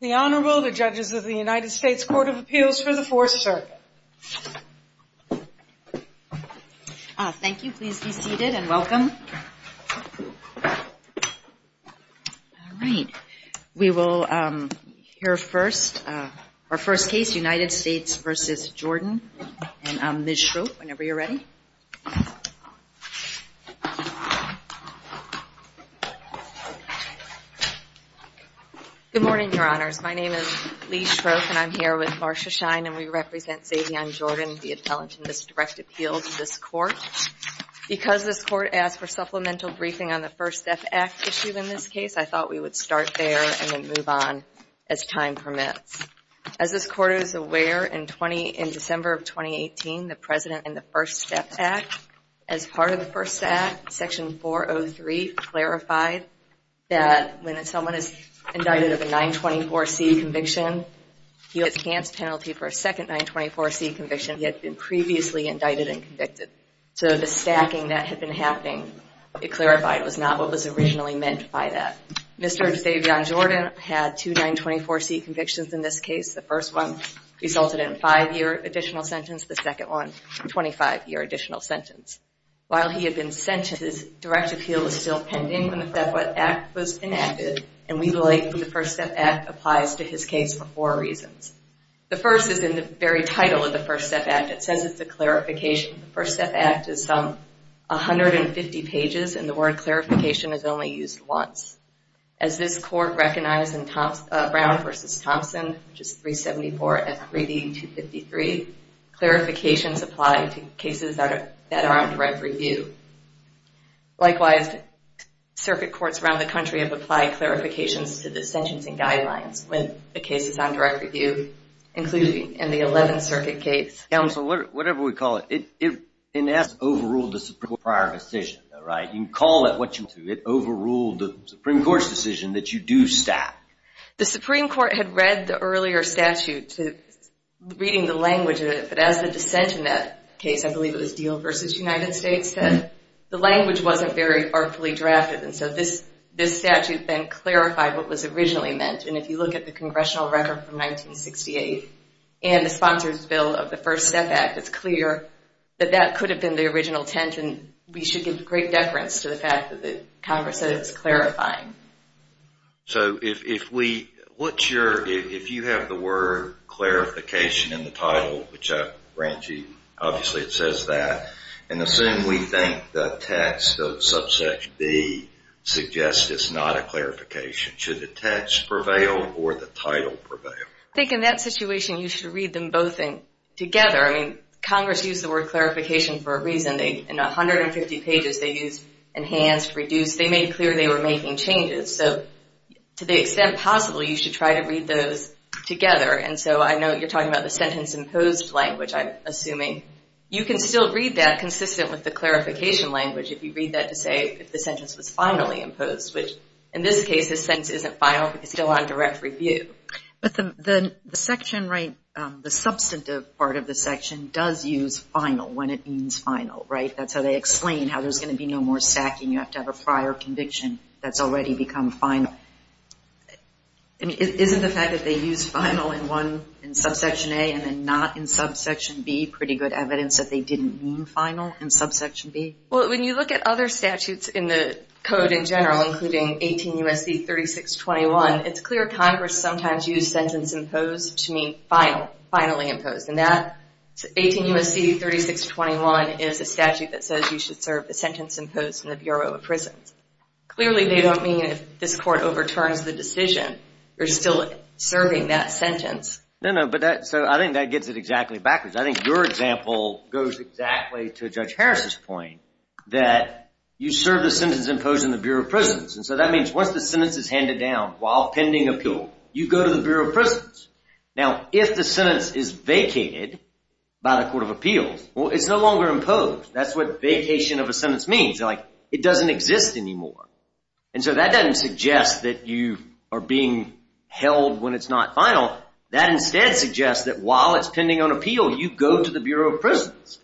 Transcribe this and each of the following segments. The Honorable, the Judges of the United States Court of Appeals for the Fourth Circuit. Thank you. Please be seated and welcome. All right. We will hear first our first case, United States v. Jordan, and Ms. Schroep, whenever you're ready. Good morning, Your Honors. My name is Lee Schroep, and I'm here with Marcia Schein, and we represent Zavian Jordan, the appellant in this direct appeal to this court. Because this court asked for supplemental briefing on the First Step Act issue in this case, I thought we would start there and then move on as time permits. As this court is aware, in December of 2018, the President, in the First Step Act, as part of the First Step Act, Section 403 clarified that when someone is indicted of a 924C conviction, he has a chance penalty for a second 924C conviction if he had been previously indicted and convicted. So the stacking that had been happening, it clarified, was not what was originally meant by that. Mr. Zavian Jordan had two 924C convictions in this case. The first one resulted in a five-year additional sentence, the second one, a 25-year additional sentence. While he had been sentenced, his direct appeal was still pending when the First Step Act was enacted, and we believe the First Step Act applies to his case for four reasons. The first is in the very title of the First Step Act. It says it's a clarification. The First Step Act is some 150 pages, and the word clarification is only used once. As this court recognized in Brown v. Thompson, which is 374 and 3D253, clarifications apply to cases that are on direct review. Likewise, circuit courts around the country have applied clarifications to the sentencing guidelines when the case is on direct review, including in the 11th Circuit case. Counsel, whatever we call it, it in essence overruled the Supreme Court's prior decision, right? You can call it what you want to, but it overruled the Supreme Court's decision that you do stack. The Supreme Court had read the earlier statute reading the language of it, but as the dissent in that case, I believe it was Deal v. United States, said the language wasn't very artfully drafted. And so this statute then clarified what was originally meant. And if you look at the Congressional record from 1968 and the Sponsors Bill of the First Step Act, it's clear that that could have been the original intent, and we should give great deference to the fact that Congress said it's clarifying. So if we, what's your, if you have the word clarification in the title, which I grant you, obviously it says that, and assume we think the text of Subsection B suggests it's not a clarification. Should the text prevail or the title prevail? I think in that situation you should read them both together. I mean, Congress used the word clarification for a reason. In 150 pages they used enhanced, reduced. They made clear they were making changes. So to the extent possible, you should try to read those together. And so I know you're talking about the sentence-imposed language, I'm assuming. You can still read that consistent with the clarification language if you read that to say if the sentence was finally imposed, which in this case the sentence isn't final, it's still on direct review. But the section, right, the substantive part of the section does use final when it means final, right? That's how they explain how there's going to be no more stacking. You have to have a prior conviction that's already become final. I mean, isn't the fact that they used final in one, in Subsection A and then not in Subsection B pretty good evidence that they didn't mean final in Subsection B? Well, when you look at other statutes in the code in general, including 18 U.S.C. 3621, it's clear Congress sometimes used sentence-imposed to mean final, finally imposed. And that 18 U.S.C. 3621 is a statute that says you should serve the sentence imposed in the Bureau of Prisons. Clearly they don't mean if this court overturns the decision, you're still serving that sentence. No, no, but that, so I think that gets it exactly backwards. I think your example goes exactly to Judge Harris's point that you serve the sentence imposed in the Bureau of Prisons. And so that means once the sentence is handed down while pending appeal, you go to the Bureau of Prisons. Now, if the sentence is vacated by the Court of Appeals, well, it's no longer imposed. That's what vacation of a sentence means. Like, it doesn't exist anymore. And so that doesn't suggest that you are being held when it's not final. That instead suggests that while it's pending on appeal, you go to the Bureau of Prisons.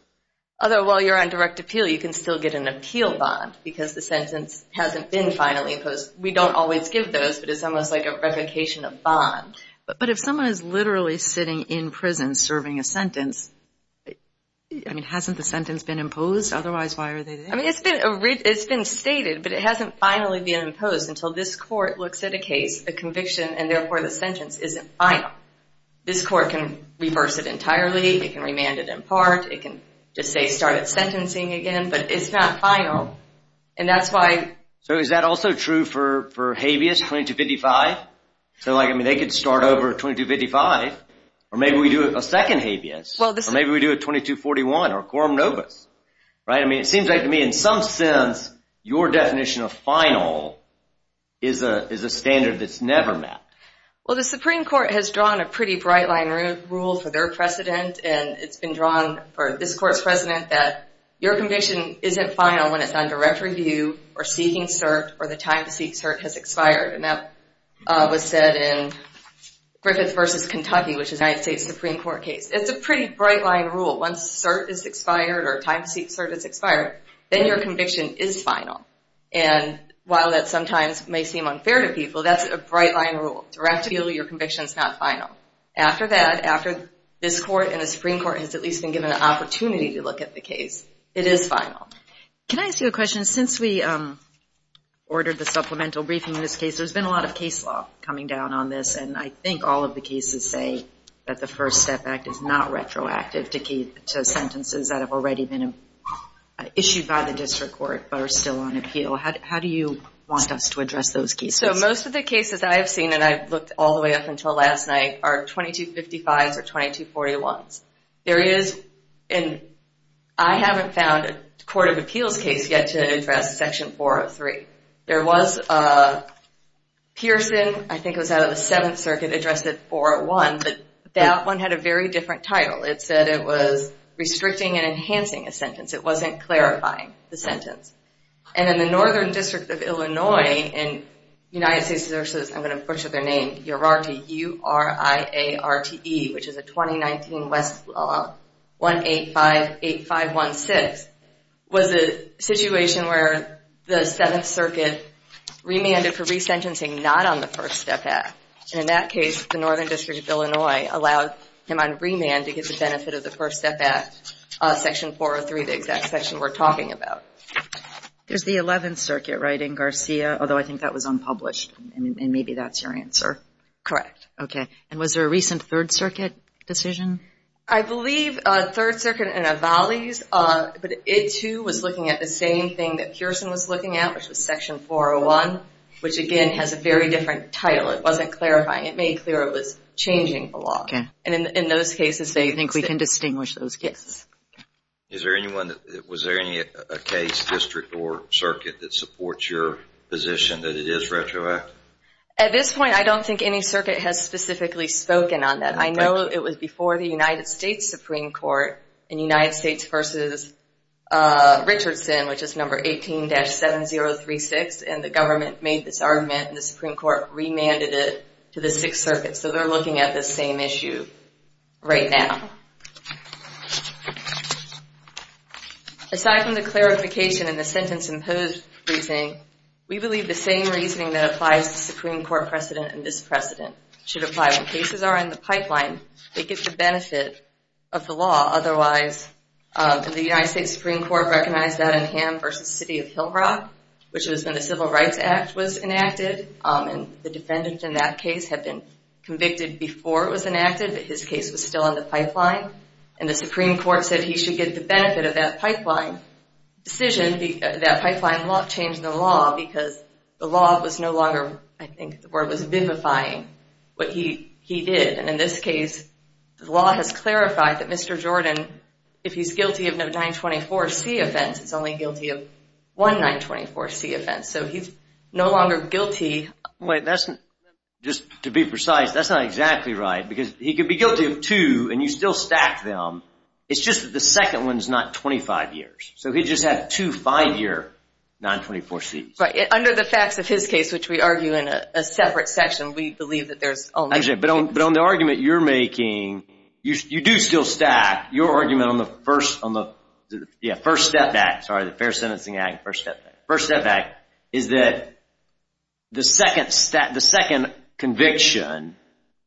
Although while you're on direct appeal, you can still get an appeal bond because the sentence hasn't been finally imposed. We don't always give those, but it's almost like a replication of bond. But if someone is literally sitting in prison serving a sentence, I mean, hasn't the sentence been imposed? Otherwise, why are they there? I mean, it's been stated, but it hasn't finally been imposed until this court looks at a case, a conviction, and therefore the sentence isn't final. This court can reverse it entirely. It can remand it in part. It can just say start at sentencing again, but it's not final. And that's why. So is that also true for habeas 2255? So like, I mean, they could start over at 2255, or maybe we do a second habeas. Or maybe we do a 2241 or quorum novus, right? I mean, it seems like to me, in some sense, your definition of final is a standard that's never met. Well, the Supreme Court has drawn a pretty bright line rule for their precedent. And it's been drawn for this court's precedent that your conviction isn't final when it's on direct review or seeking cert, or the time to seek cert has expired. And that was said in Griffith versus Kentucky, which is a United States Supreme Court case. It's a pretty bright line rule. Once cert is expired or time to seek cert is expired, then your conviction is final. And while that sometimes may seem unfair to people, that's a bright line rule. Direct review, your conviction's not final. After that, after this court and the Supreme Court has at least been given an opportunity to look at the case, it is final. Can I ask you a question? Since we ordered the supplemental briefing in this case, there's been a lot of case law coming down on this. And I think all of the cases say that the First Step Act is not retroactive to sentences that have already been issued by the district court but are still on appeal. How do you want us to address those cases? So most of the cases I have seen, and I've looked all the way up until last night, are 2255s or 2241s. There is, and I haven't found a court of appeals case yet to address Section 403. There was a Pearson, I think it was out of the Seventh Circuit, addressed it 401, but that one had a very different title. It said it was restricting and enhancing a sentence. It wasn't clarifying the sentence. And in the Northern District of Illinois in United States, I'm going to butcher their name, Uriarte, U-R-I-A-R-T-E, which is a 2019 Westlaw 1858516, was a situation where the Seventh Circuit remanded for resentencing not on the First Step Act. And in that case, the Northern District of Illinois allowed him on remand to get the benefit of the First Step Act, Section 403, the exact section we're talking about. There's the Eleventh Circuit writing Garcia, although I think that was unpublished, and maybe that's your answer. Correct. Okay. And was there a recent Third Circuit decision? I believe Third Circuit in Evales, but it too was looking at the same thing that Pearson was looking at, which was Section 401, which again has a very different title. It wasn't clarifying. It made clear it was changing the law. And in those cases, they think we can distinguish those cases. Is there anyone, was there any case, district, or circuit that supports your position that it is retroactive? At this point, I don't think any circuit has specifically spoken on that. I know it was before the United States Supreme Court in United States v. Richardson, which is number 18-7036, and the government made this argument. The Supreme Court remanded it to the Sixth Circuit, so they're looking at the same issue right now. Aside from the clarification in the sentence imposed reasoning, we believe the same reasoning that applies to Supreme Court precedent and this precedent should apply. When cases are in the pipeline, they get the benefit of the law. Otherwise, the United States Supreme Court recognized that in Ham v. City of Hill Rock, which was when the Civil Rights Act was enacted, and the defendant in that case had been convicted before it was enacted, but his case was still in the pipeline. And the Supreme Court said he should get the benefit of that pipeline decision. That pipeline law changed the law because the law was no longer, I think the word was vivifying, what he did. And in this case, the law has clarified that Mr. Jordan, if he's guilty of no 924C offense, is only guilty of one 924C offense. So he's no longer guilty. Wait, that's, just to be precise, that's not exactly right, because he could be guilty of two, and you still stack them. It's just that the second one's not 25 years. So he just had two five-year 924Cs. Right, under the facts of his case, which we argue in a separate section, we believe that there's only- Actually, but on the argument you're making, you do still stack. Your argument on the first step back, sorry, the Fair Sentencing Act, first step back, is that the second conviction,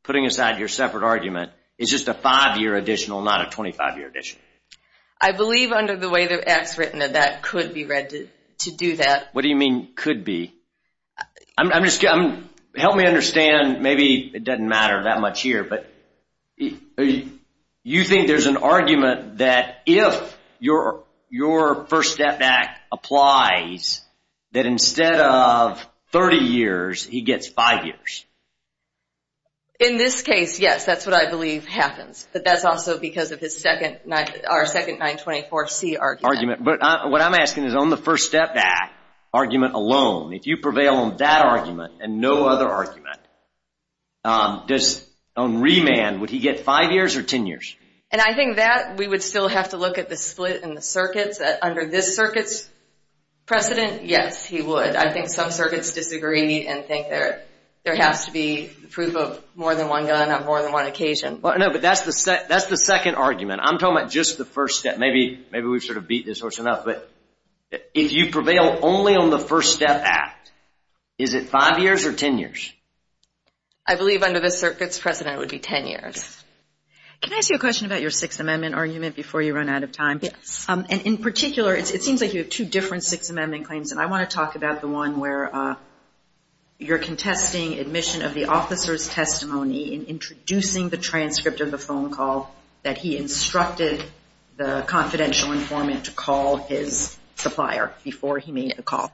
putting aside your separate argument, is just a five-year additional, not a 25-year addition. I believe under the way the act's written that that could be read to do that. What do you mean, could be? I'm just, help me understand, maybe it doesn't matter that much here, but you think there's an argument that if your first step back applies, that instead of 30 years, he gets five years? In this case, yes, that's what I believe happens, but that's also because of his second 924C argument. But what I'm asking is on the first step back argument alone, if you prevail on that argument and no other argument, on remand, would he get five years or 10 years? And I think that we would still have to look at the split in the circuits, that under this circuit's precedent, yes, he would. I think some circuits disagree and think there has to be proof of more than one gun on more than one occasion. No, but that's the second argument. I'm talking about just the first step. Maybe we've sort of beat this horse enough, but if you prevail only on the first step act, is it five years or 10 years? I believe under this circuit's precedent, it would be 10 years. Can I ask you a question about your Sixth Amendment argument before you run out of time? Yes. In particular, it seems like you have two different Sixth Amendment claims, and I want to talk about the one where you're contesting admission of the officer's testimony and introducing the transcript of the phone call that he instructed the confidential informant to call his supplier before he made the call.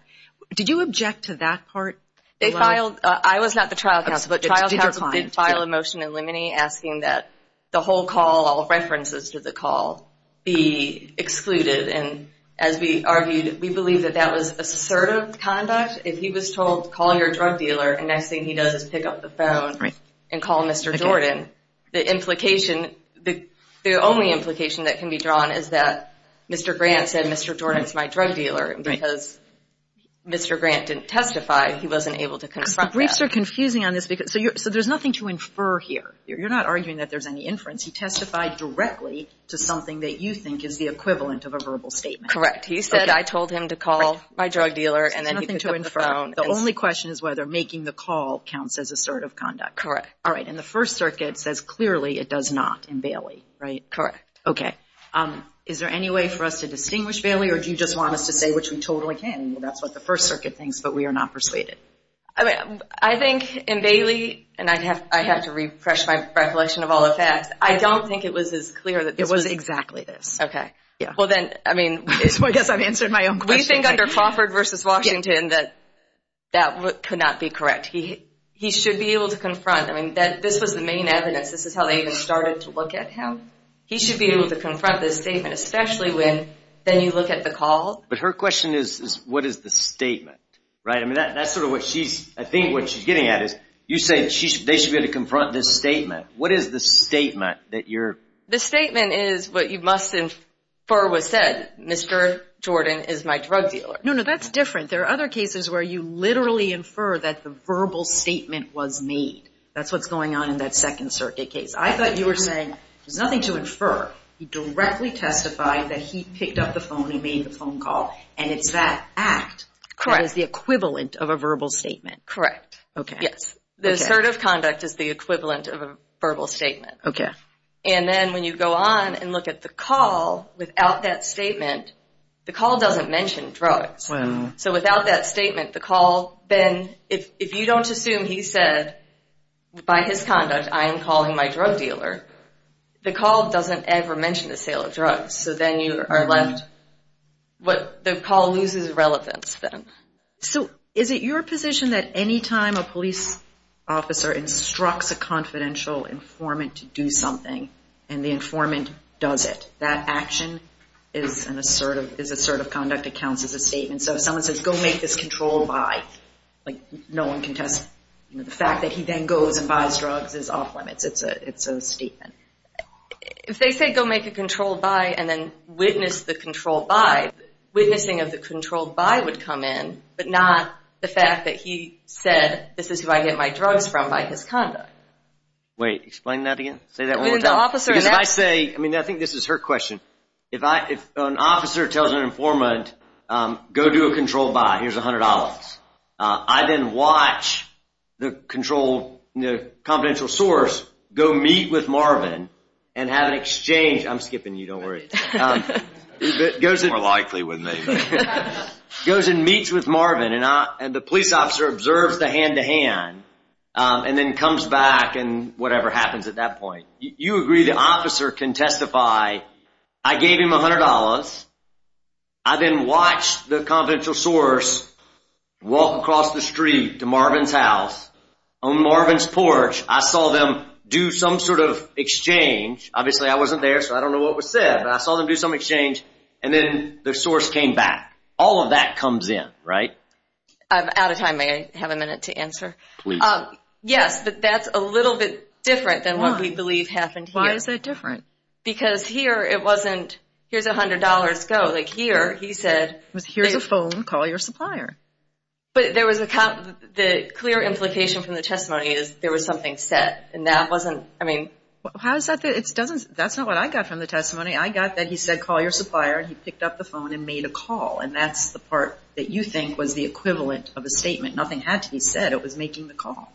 Did you object to that part? I was not the trial counsel, but trial counsel did file a motion in limine asking that the whole call, all references to the call, be excluded. And as we argued, we believe that that was assertive conduct. If he was told, call your drug dealer, the next thing he does is pick up the phone and call Mr. Jordan. The implication, the only implication that can be drawn is that Mr. Grant said, Mr. Jordan's my drug dealer, and because Mr. Grant didn't testify, he wasn't able to confront that. The briefs are confusing on this, so there's nothing to infer here. You're not arguing that there's any inference. He testified directly to something that you think is the equivalent of a verbal statement. Correct. He said, I told him to call my drug dealer, and then he picked up the phone. The only question is whether making the call counts as assertive conduct. Correct. All right, and the First Circuit says clearly it does not in Bailey, right? Correct. Okay. Is there any way for us to distinguish Bailey, or do you just want us to say, which we totally can? That's what the First Circuit thinks, but we are not persuaded. I think in Bailey, and I have to refresh my recollection of all the facts, I don't think it was as clear that this was exactly this. Okay. Yeah. Well, then, I mean, I guess I've answered my own question. We think under Crawford versus Washington that that could not be correct. He should be able to confront. This was the main evidence. This is how they even started to look at him. He should be able to confront this statement, especially when then you look at the call. But her question is, what is the statement, right? I mean, that's sort of what she's, I think what she's getting at is, you said they should be able to confront this statement. What is the statement that you're... The statement is what you must infer was said, Mr. Jordan is my drug dealer. No, no, that's different. There are other cases where you literally infer that the verbal statement was made. That's what's going on in that second circuit case. I thought you were saying there's nothing to infer. He directly testified that he picked up the phone, he made the phone call, and it's that act. Correct. That is the equivalent of a verbal statement. Correct. Okay. Yes. The assertive conduct is the equivalent of a verbal statement. Okay. And then when you go on and look at the call without that statement, the call doesn't mention drugs. So without that statement, the call, then, if you don't assume he said by his conduct, I am calling my drug dealer, the call doesn't ever mention the sale of drugs. So then you are left, the call loses relevance then. So is it your position that any time a police officer instructs a confidential informant to do something and the informant does it, that action is an assertive, is assertive conduct counts as a statement? So if someone says, go make this controlled by, like, no one can test, you know, the fact that he then goes and buys drugs is off limits. It's a statement. If they say, go make a controlled by, and then witness the controlled by, witnessing of the controlled by would come in, but not the fact that he said, this is who I get my drugs from by his conduct. Wait, explain that again? Say that one more time? I mean, the officer is... Because if I say, I mean, I think this is her question. If an officer tells an informant, go do a controlled by, here's $100. I then watch the controlled, the confidential source, go meet with Marvin and have an exchange. I'm skipping you, don't worry. It's more likely with me. He goes and meets with Marvin and the police officer observes the hand-to-hand and then comes back and whatever happens at that point. You agree the officer can testify, I gave him $100. I then watched the confidential source walk across the street to Marvin's house. On Marvin's porch, I saw them do some sort of exchange. Obviously, I wasn't there, so I don't know what was said, but I saw them do some exchange and then the source came back. All of that comes in, right? I'm out of time. May I have a minute to answer? Please. Yes, but that's a little bit different than what we believe happened here. Why is that different? Because here, it wasn't, here's $100, go. Like here, he said. Here's a phone, call your supplier. But there was a clear implication from the testimony is there was something said and that wasn't, I mean. How is that, that's not what I got from the testimony. I got that he said call your supplier and he picked up the phone and made a call and that's the part that you think was the equivalent of a statement. Nothing had to be said. It was making the call.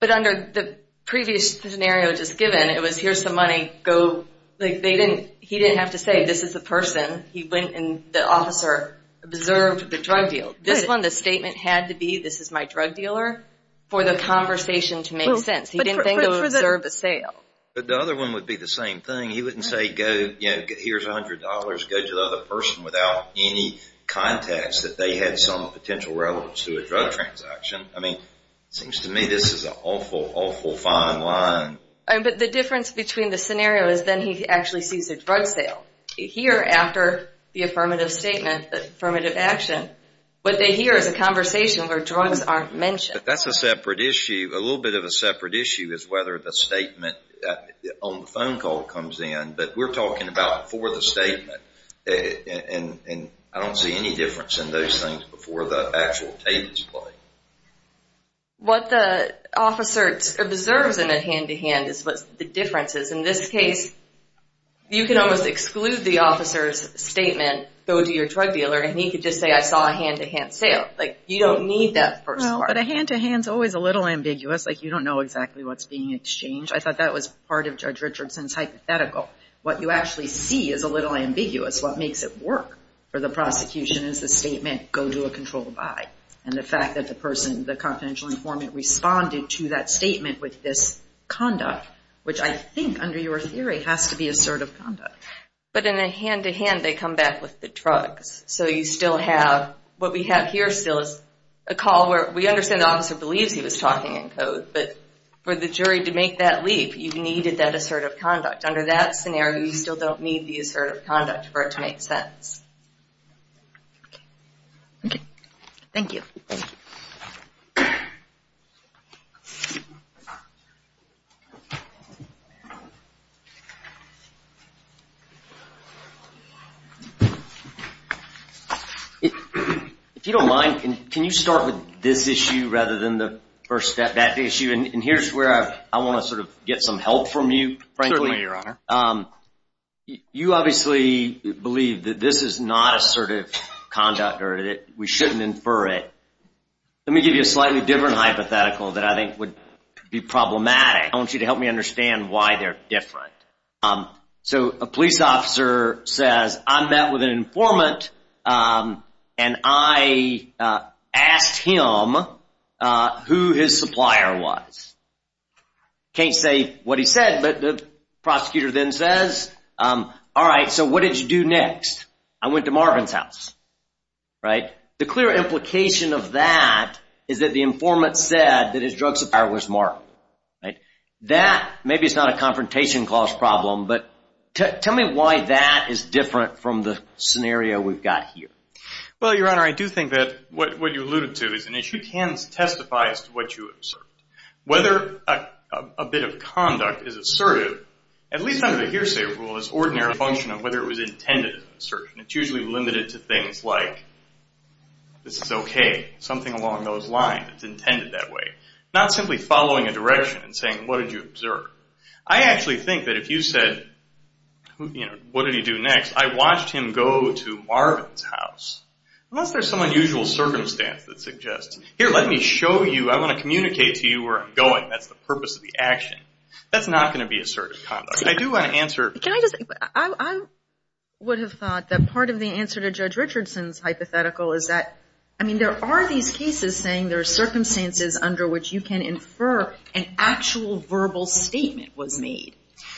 But under the previous scenario just given, it was here's the money, go. They didn't, he didn't have to say this is the person. He went and the officer observed the drug deal. This one, the statement had to be, this is my drug dealer for the conversation to make sense. He didn't think to observe the sale. But the other one would be the same thing. He wouldn't say go, you know, here's $100, go to the other person without any context that they had some potential relevance to a drug transaction. I mean, it seems to me this is an awful, awful fine line. But the difference between the scenario is then he actually sees a drug sale. Here after the affirmative statement, the affirmative action, what they hear is a conversation where drugs aren't mentioned. That's a separate issue, a little bit of a separate issue is whether the statement on the phone call comes in. We're talking about before the statement. I don't see any difference in those things before the actual tape is played. What the officer observes in a hand-to-hand is what the difference is. In this case, you can almost exclude the officer's statement, go to your drug dealer and he could just say I saw a hand-to-hand sale. Like you don't need that first part. But a hand-to-hand is always a little ambiguous. Like you don't know exactly what's being exchanged. I thought that was part of Judge Richardson's hypothetical. What you actually see is a little ambiguous. What makes it work for the prosecution is the statement, go to a controlled buy. And the fact that the person, the confidential informant responded to that statement with this conduct, which I think under your theory has to be assertive conduct. But in a hand-to-hand, they come back with the drugs. So you still have, what we have here still is a call where we understand the officer believes he was talking in code. But for the jury to make that leap, you needed that assertive conduct. Under that scenario, you still don't need the assertive conduct for it to make sense. Okay, thank you. If you don't mind, can you start with this issue rather than the first step, that issue? And here's where I want to sort of get some help from you, frankly. You obviously believe that this is not assertive conduct or that we shouldn't infer it. Let me give you a slightly different hypothetical that I think would be problematic. I want you to help me understand why they're different. So a police officer says, I met with an informant and I asked him who his supplier was. I can't say what he said, but the prosecutor then says, all right, so what did you do next? I went to Marvin's house, right? The clear implication of that is that the informant said that his drug supplier was Marvin. That, maybe it's not a confrontation clause problem, but tell me why that is different from the scenario we've got here. Well, Your Honor, I do think that what you alluded to is an issue. It can testify as to what you observed. Whether a bit of conduct is assertive, at least under the hearsay rule, is ordinary function of whether it was intended as an assertion. It's usually limited to things like, this is okay. Something along those lines. It's intended that way. Not simply following a direction and saying, what did you observe? I actually think that if you said, what did he do next? I watched him go to Marvin's house. Unless there's some unusual circumstance that suggests, let me show you. I want to communicate to you where I'm going. That's the purpose of the action. That's not going to be assertive conduct. I do want to answer. I would have thought that part of the answer to Judge Richardson's hypothetical is that, I mean, there are these cases saying there are circumstances under which you can infer an actual verbal statement was made.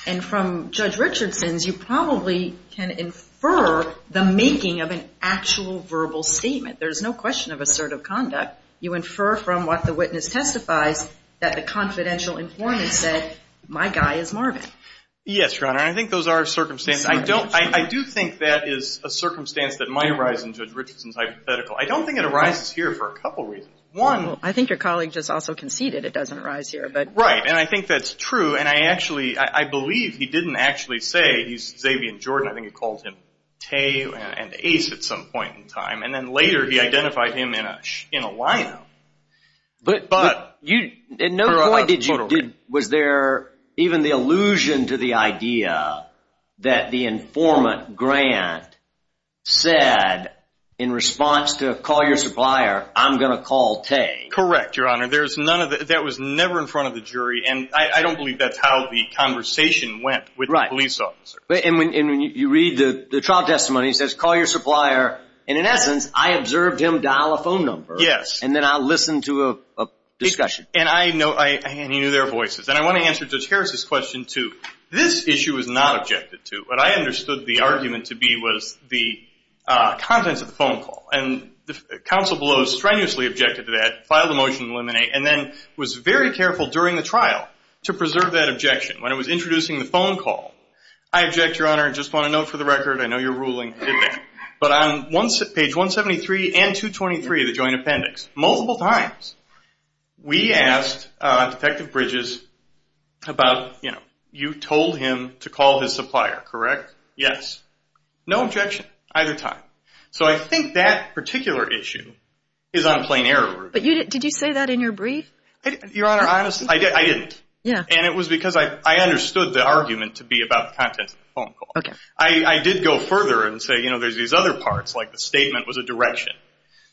And from Judge Richardson's, you probably can infer the making of an actual verbal statement. There's no question of assertive conduct. You infer from what the witness testifies that the confidential informant said, my guy is Marvin. Yes, Your Honor. And I think those are circumstances. I don't, I do think that is a circumstance that might arise in Judge Richardson's hypothetical. I don't think it arises here for a couple of reasons. One. I think your colleague just also conceded it doesn't arise here, but. Right. And I think that's true. And I actually, I believe he didn't actually say, he's Xavier and Jordan. I think he called him Tay and Ace at some point in time. And then later he identified him in a, in a lineup. But you, at no point did you, was there even the allusion to the idea that the informant grant said in response to call your supplier, I'm going to call Tay. Correct, Your Honor. There's none of the, that was never in front of the jury. And I don't believe that's how the conversation went with the police officers. And when you read the trial testimony, it says call your supplier. And in essence, I observed him dial a phone number. Yes. And then I'll listen to a discussion. And I know, and you knew their voices. And I want to answer Judge Harris's question too. This issue was not objected to. What I understood the argument to be was the contents of the phone call. And counsel below strenuously objected to that, filed a motion to eliminate, and then was very careful during the trial to preserve that objection. When it was introducing the phone call, I object, Your Honor. I just want to note for the record, I know you're ruling. But on page 173 and 223 of the joint appendix, multiple times, we asked Detective Bridges about, you know, you told him to call his supplier, correct? Yes. No objection, either time. So I think that particular issue is on plain error. But you didn't, did you say that in your brief? Your Honor, honestly, I didn't. Yeah. And it was because I understood the argument to be about the contents of the phone call. Okay. I did go further and say, you know, there's these other parts, like the statement was a direction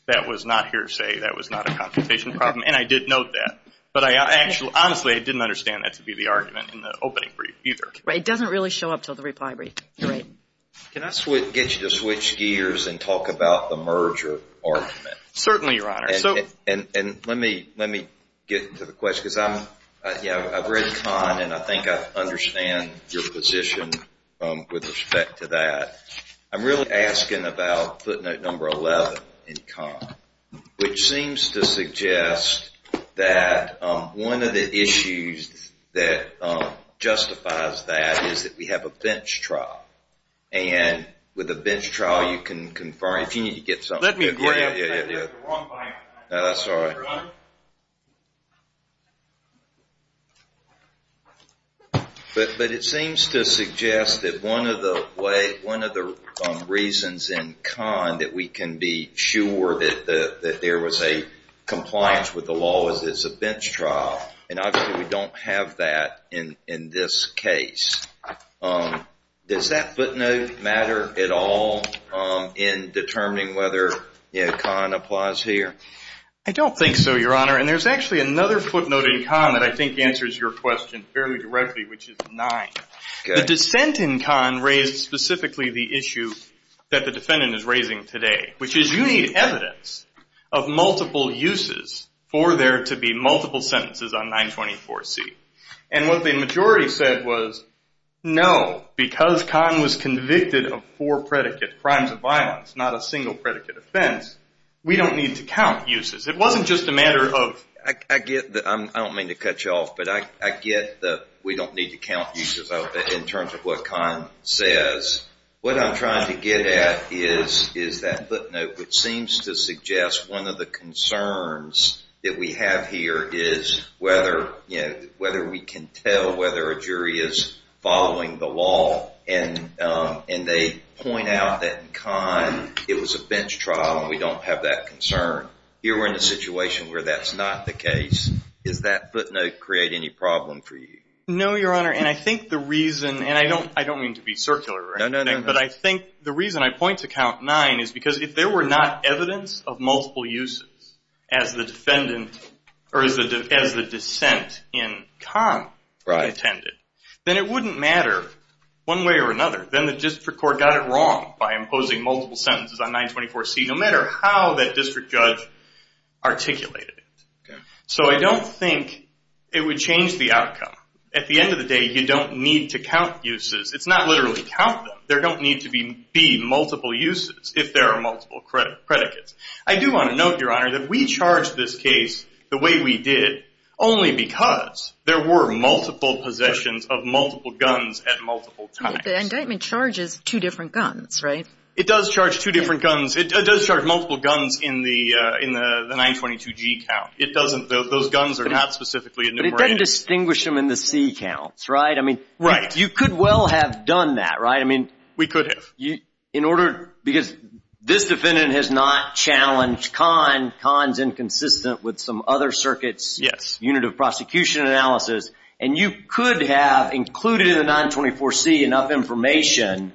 that was not hearsay, that was not a confrontation problem. And I did note that. But I actually, honestly, I didn't understand that to be the argument in the opening brief either. Right. It doesn't really show up till the reply brief. You're right. Can I get you to switch gears and talk about the merger argument? Certainly, Your Honor. And let me get to the question, because I'm, yeah, I've read Kahn, and I think I understand your position with respect to that. I'm really asking about footnote number 11 in Kahn, which seems to suggest that one of the issues that justifies that is that we have a bench trial. And with a bench trial, you can confirm, if you need to get something. Yeah, yeah, yeah, that's right. But it seems to suggest that one of the reasons in Kahn that we can be sure that there was a compliance with the law is it's a bench trial. And obviously, we don't have that in this case. Does that footnote matter at all in determining whether Kahn applies here? I don't think so, Your Honor. And there's actually another footnote in Kahn that I think answers your question fairly directly, which is nine. The dissent in Kahn raised specifically the issue that the defendant is raising today, which is you need evidence of multiple uses for there to be multiple sentences on 924C. And what the majority said was, no, because Kahn was convicted of four predicate crimes of violence, not a single predicate offense, we don't need to count uses. It wasn't just a matter of... I get that. I don't mean to cut you off, but I get that we don't need to count uses in terms of what Kahn says. What I'm trying to get at is that footnote, which seems to suggest one of the concerns that we have here is whether we can tell whether a jury is following the law. And they point out that in Kahn, it was a bench trial, and we don't have that concern. Here, we're in a situation where that's not the case. Does that footnote create any problem for you? No, Your Honor. And I think the reason... And I don't mean to be circular or anything, but I think the reason I point to count nine is because if there were not evidence of multiple uses as the defendant or as the dissent in Kahn intended, then it wouldn't matter one way or another. Then the district court got it wrong by imposing multiple sentences on 924C, no matter how that district judge articulated it. So I don't think it would change the outcome. At the end of the day, you don't need to count uses. It's not literally count them. There don't need to be multiple uses. If there are multiple predicates. I do want to note, Your Honor, that we charged this case the way we did only because there were multiple possessions of multiple guns at multiple times. The indictment charges two different guns, right? It does charge two different guns. It does charge multiple guns in the 922G count. It doesn't... Those guns are not specifically enumerated. But it doesn't distinguish them in the C counts, right? I mean... Right. You could well have done that, right? I mean... We could have. In order... Because this defendant has not challenged Kahn. Kahn's inconsistent with some other circuit's unit of prosecution analysis. And you could have included in the 924C enough information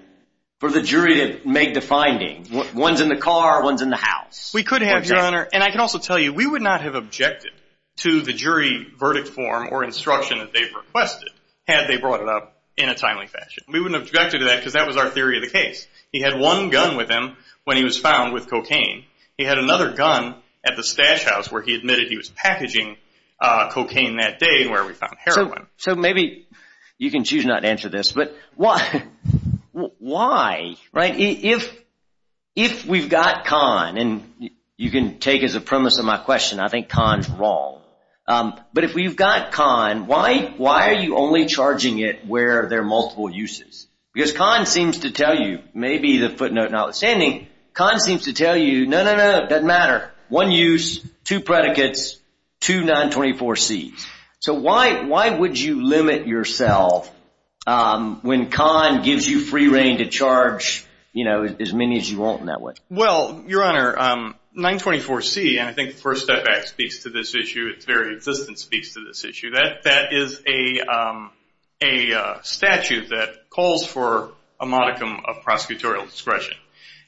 for the jury to make the finding. One's in the car. One's in the house. We could have, Your Honor. And I can also tell you, we would not have objected to the jury verdict form or instruction that they've requested had they brought it up in a timely fashion. We wouldn't have objected to that because that was our theory of the case. He had one gun with him when he was found with cocaine. He had another gun at the stash house where he admitted he was packaging cocaine that day where we found heroin. So maybe you can choose not to answer this. But why, right? If we've got Kahn, and you can take as a premise of my question, I think Kahn's wrong. But if we've got Kahn, why are you only charging it where there are multiple uses? Because Kahn seems to tell you, maybe the footnote notwithstanding, Kahn seems to tell you, no, no, no, it doesn't matter. One use, two predicates, two 924Cs. So why would you limit yourself when Kahn gives you free reign to charge as many as you want in that way? Well, Your Honor, 924C, and I think the First Step Act speaks to this issue. Its very existence speaks to this issue. That is a statute that calls for a modicum of prosecutorial discretion.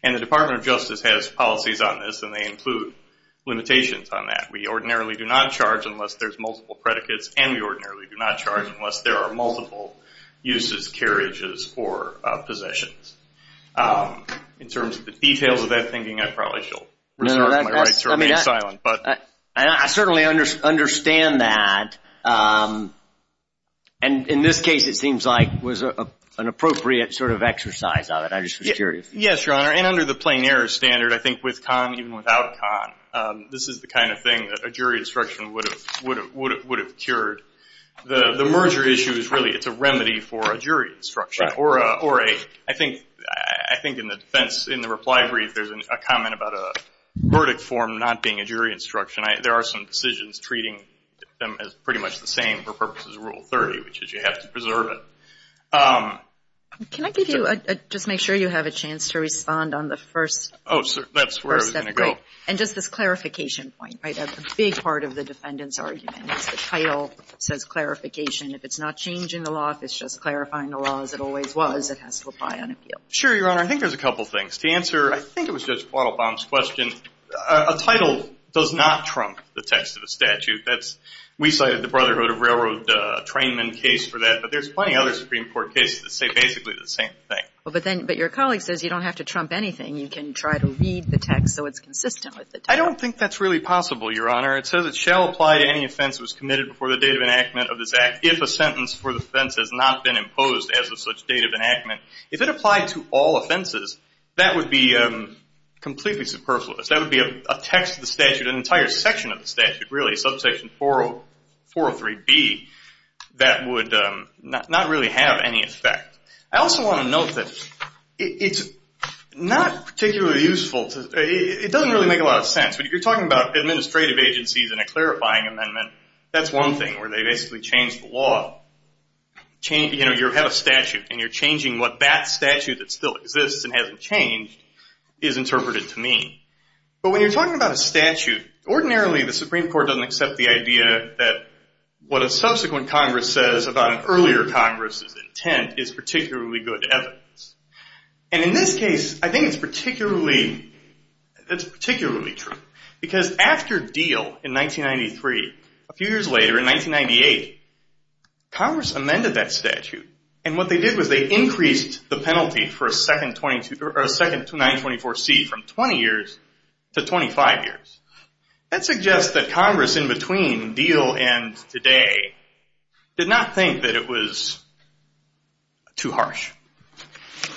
And the Department of Justice has policies on this, and they include limitations on that. We ordinarily do not charge unless there's multiple predicates, and we ordinarily do not charge unless there are multiple uses, carriages, or possessions. In terms of the details of that thinking, I probably should reserve my right to remain silent. And I certainly understand that. And in this case, it seems like it was an appropriate sort of exercise of it. I just was curious. Yes, Your Honor. And under the plain error standard, I think with Kahn, even without Kahn, this is the kind of thing that a jury instruction would have cured. The merger issue is really, it's a remedy for a jury instruction, or a, I think in the defense, in the reply brief, there's a comment about a verdict form not being a jury instruction. There are some decisions treating them as pretty much the same for purposes of Rule 30, which is you have to preserve it. Can I give you, just make sure you have a chance to respond on the First Step Act? Oh, sure. That's where I was going to go. And just this clarification point, right? A big part of the defendant's argument is the title says clarification. If it's not changing the law, if it's just clarifying the law as it always was, it has to apply on appeal. Sure, Your Honor. I think there's a couple things. To answer, I think it was Judge Waddlebaum's question, a title does not trump the text of the statute. That's, we cited the Brotherhood of Railroad Trainmen case for that, but there's plenty other Supreme Court cases that say basically the same thing. Well, but then, but your colleague says you don't have to trump anything. You can try to read the text so it's consistent with the text. I don't think that's really possible. It says it shall apply to any offense that was committed before the date of enactment of this act if a sentence for the offense has not been imposed as of such date of enactment. If it applied to all offenses, that would be completely superfluous. That would be a text of the statute, an entire section of the statute, really, subsection 403B, that would not really have any effect. I also want to note that it's not particularly useful to, it doesn't really make a lot of sense to have a statute that says, you know, you have a statute and you're changing what that statute that still exists and hasn't changed is interpreted to mean. But when you're talking about a statute, ordinarily the Supreme Court doesn't accept the idea that what a subsequent Congress says about an earlier Congress's intent is particularly good evidence. And in this case, I think it's particularly true. Because after Deal in 1993, a few years later in 1998, Congress amended that statute. And what they did was they increased the penalty for a second 924C from 20 years to 25 years. That suggests that Congress in between Deal and today did not think that it was too harsh.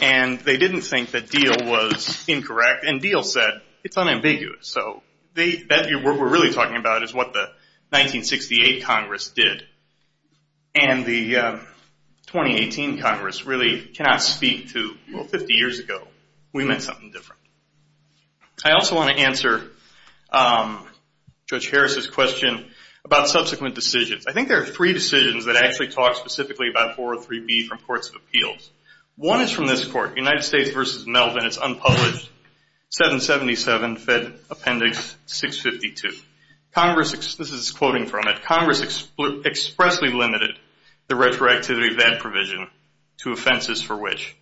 And they didn't think that Deal was incorrect. And Deal said, it's unambiguous. So what we're really talking about is what the 1968 Congress did. And the 2018 Congress really cannot speak to, well, 50 years ago, we meant something different. I also want to answer Judge Harris's question about subsequent decisions. I think there are three decisions that actually talk specifically about 403B from Courts of Appeals. One is from this Court, United States v. Melvin. It's unpublished. 777 Fed Appendix 652. This is quoting from it. Congress expressly limited the retroactivity of that provision to offenses for which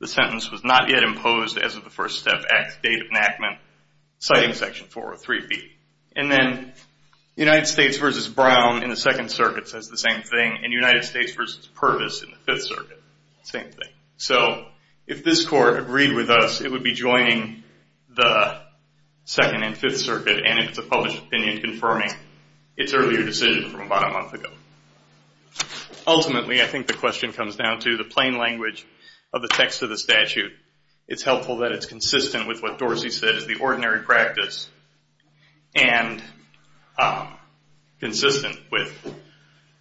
the sentence was not yet imposed as of the First Step Act date of enactment, citing Section 403B. And then United States v. Brown in the Second Circuit says the same thing. And United States v. Purvis in the Fifth Circuit, same thing. So if this Court agreed with us, it would be joining the Second and Fifth Circuit. And it's a published opinion confirming its earlier decision from about a month ago. Ultimately, I think the question comes down to the plain language of the text of the statute. It's helpful that it's consistent with what Dorsey said is the ordinary practice. And consistent with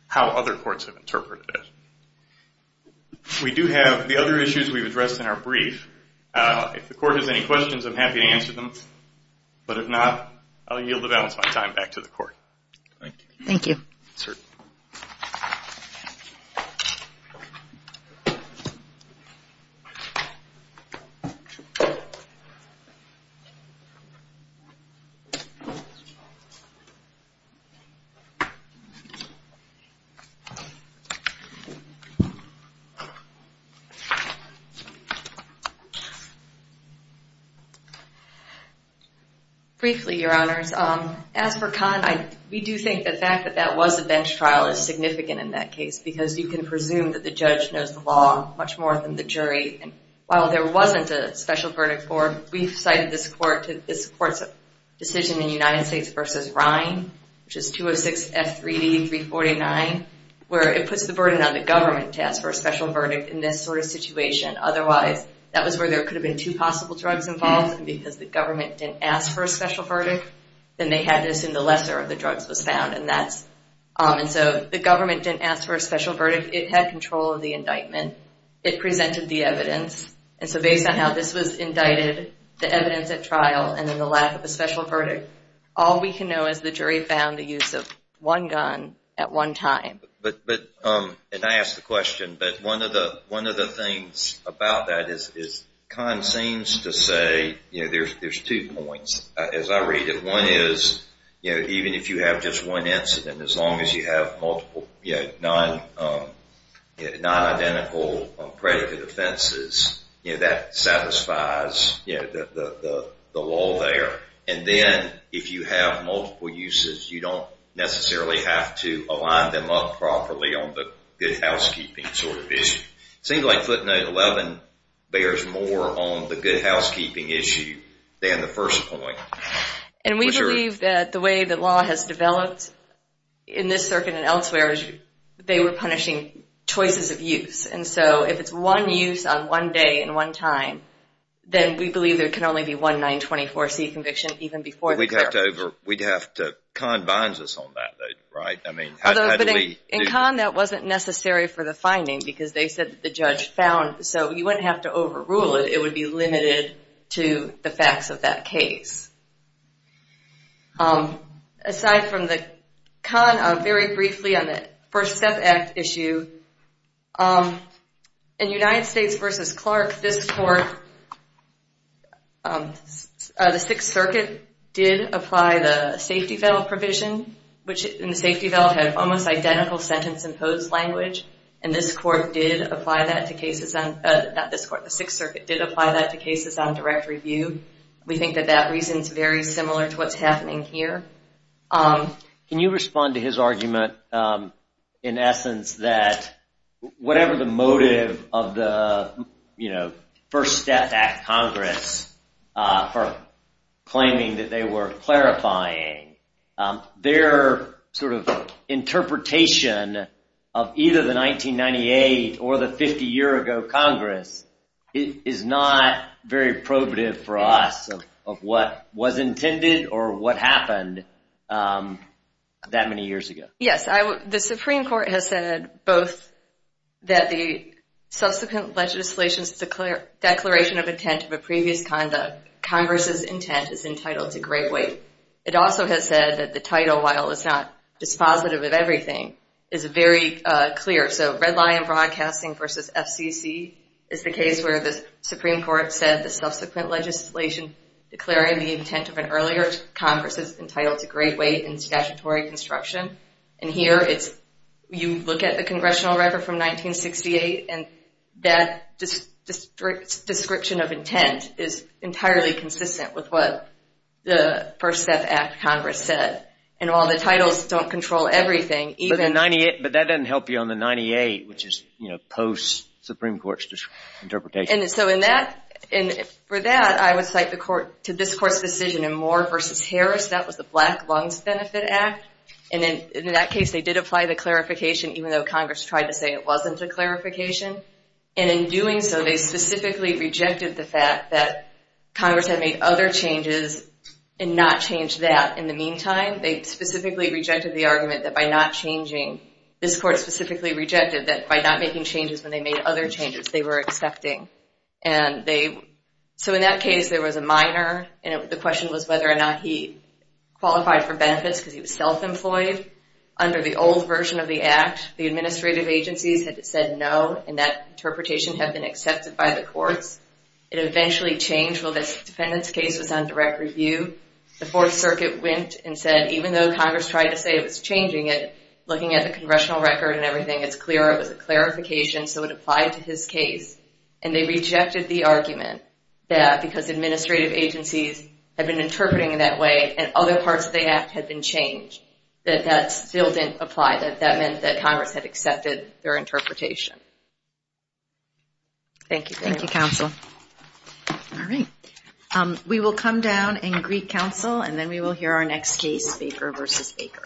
how other courts have interpreted it. We do have the other issues we've addressed in our brief. If the Court has any questions, I'm happy to answer them. But if not, I'll yield the balance of my time back to the Court. Thank you. Briefly, Your Honors. As for Conn, we do think the fact that that was a bench trial is significant in that case. Because you can presume that the judge knows the law much more than the jury. And while there wasn't a special verdict for him, we've cited this Court's decision in United States v. Ryan, which is 206F3D349, where it puts the burden on the government to ask for a special verdict in this sort of situation. Otherwise, that was where there could have been two possible drugs involved because the government didn't ask for a special verdict. And they had this in the lesser of the drugs was found. And so the government didn't ask for a special verdict. It had control of the indictment. It presented the evidence. And so based on how this was indicted, the evidence at trial, and then the lack of a special verdict, all we can know is the jury found the use of one gun at one time. But, and I ask the question, but one of the things about that is Conn seems to say, you know, there's two points as I read it. One is, you know, even if you have just one incident, as long as you have multiple, you know, non-identical predicate offenses, you know, that satisfies, you know, the law there. And then if you have multiple uses, you don't necessarily have to align them up properly on the good housekeeping sort of issue. It seems like footnote 11 bears more on the good housekeeping issue than the first point. And we believe that the way the law has developed in this circuit and elsewhere is they were punishing choices of use. And so if it's one use on one day and one time, then we believe there can only be one 924C conviction even before the court. We'd have to over, we'd have to, Conn binds us on that, right? I mean, how do we? In Conn that wasn't necessary for the finding because they said that the judge found, so you wouldn't have to overrule it. It would be limited to the facts of that case. Aside from the Conn, very briefly on the First Step Act issue, in United States v. Clark, this court, the Sixth Circuit did apply the safety veil provision, which in the safety veil had almost identical sentence imposed language. And this court did apply that to cases on, not this court, the Sixth Circuit did apply that to cases on direct review. We think that that reason is very similar to what's happening here. Can you respond to his argument in essence that whatever the motive of the, you know, First Step Act Congress for claiming that they were clarifying, their sort of interpretation of either the 1998 or the 50 year ago Congress is not very probative for us of what was intended or what happened that many years ago? Yes, the Supreme Court has said both that the subsequent legislation's declaration of intent of a previous conduct, Congress's intent is entitled to great weight. It also has said that the title, while it's not dispositive of everything, is very clear. So Red Lion Broadcasting v. FCC is the case where the Supreme Court said the subsequent legislation declaring the intent of an earlier Congress is entitled to great weight in statutory construction. And here it's, you look at the congressional record from 1968 and that description of intent is entirely consistent with what the First Step Act Congress said. And while the titles don't control everything, even... But the 98, but that doesn't help you on the 98, which is, you know, post-Supreme Court's interpretation. And so in that, and for that, I would cite the court, to this court's decision in Moore v. Harris, that was the Black Lungs Benefit Act. And in that case, they did apply the clarification, even though Congress tried to say it wasn't a clarification. And in doing so, they specifically rejected the fact that Congress had made other changes and not changed that. In the meantime, they specifically rejected the argument that by not changing, this court specifically rejected that by not making changes when they made other changes, they were accepting. And they, so in that case, there was a minor, and the question was whether or not he qualified for benefits because he was self-employed under the old version of the act. The administrative agencies had said no, and that interpretation had been accepted by the courts. It eventually changed while this defendant's case was on direct review. The Fourth Circuit went and said, even though Congress tried to say it was changing it, looking at the congressional record and everything, it's clear it was a clarification, so it applied to his case. And they rejected the argument that because administrative agencies had been interpreting in that way, and other parts of the act had been changed, that that still didn't apply, that that meant that Congress had accepted their interpretation. Thank you. Thank you, counsel. All right. We will come down and greet counsel, and then we will hear our next case, Baker v. Baker.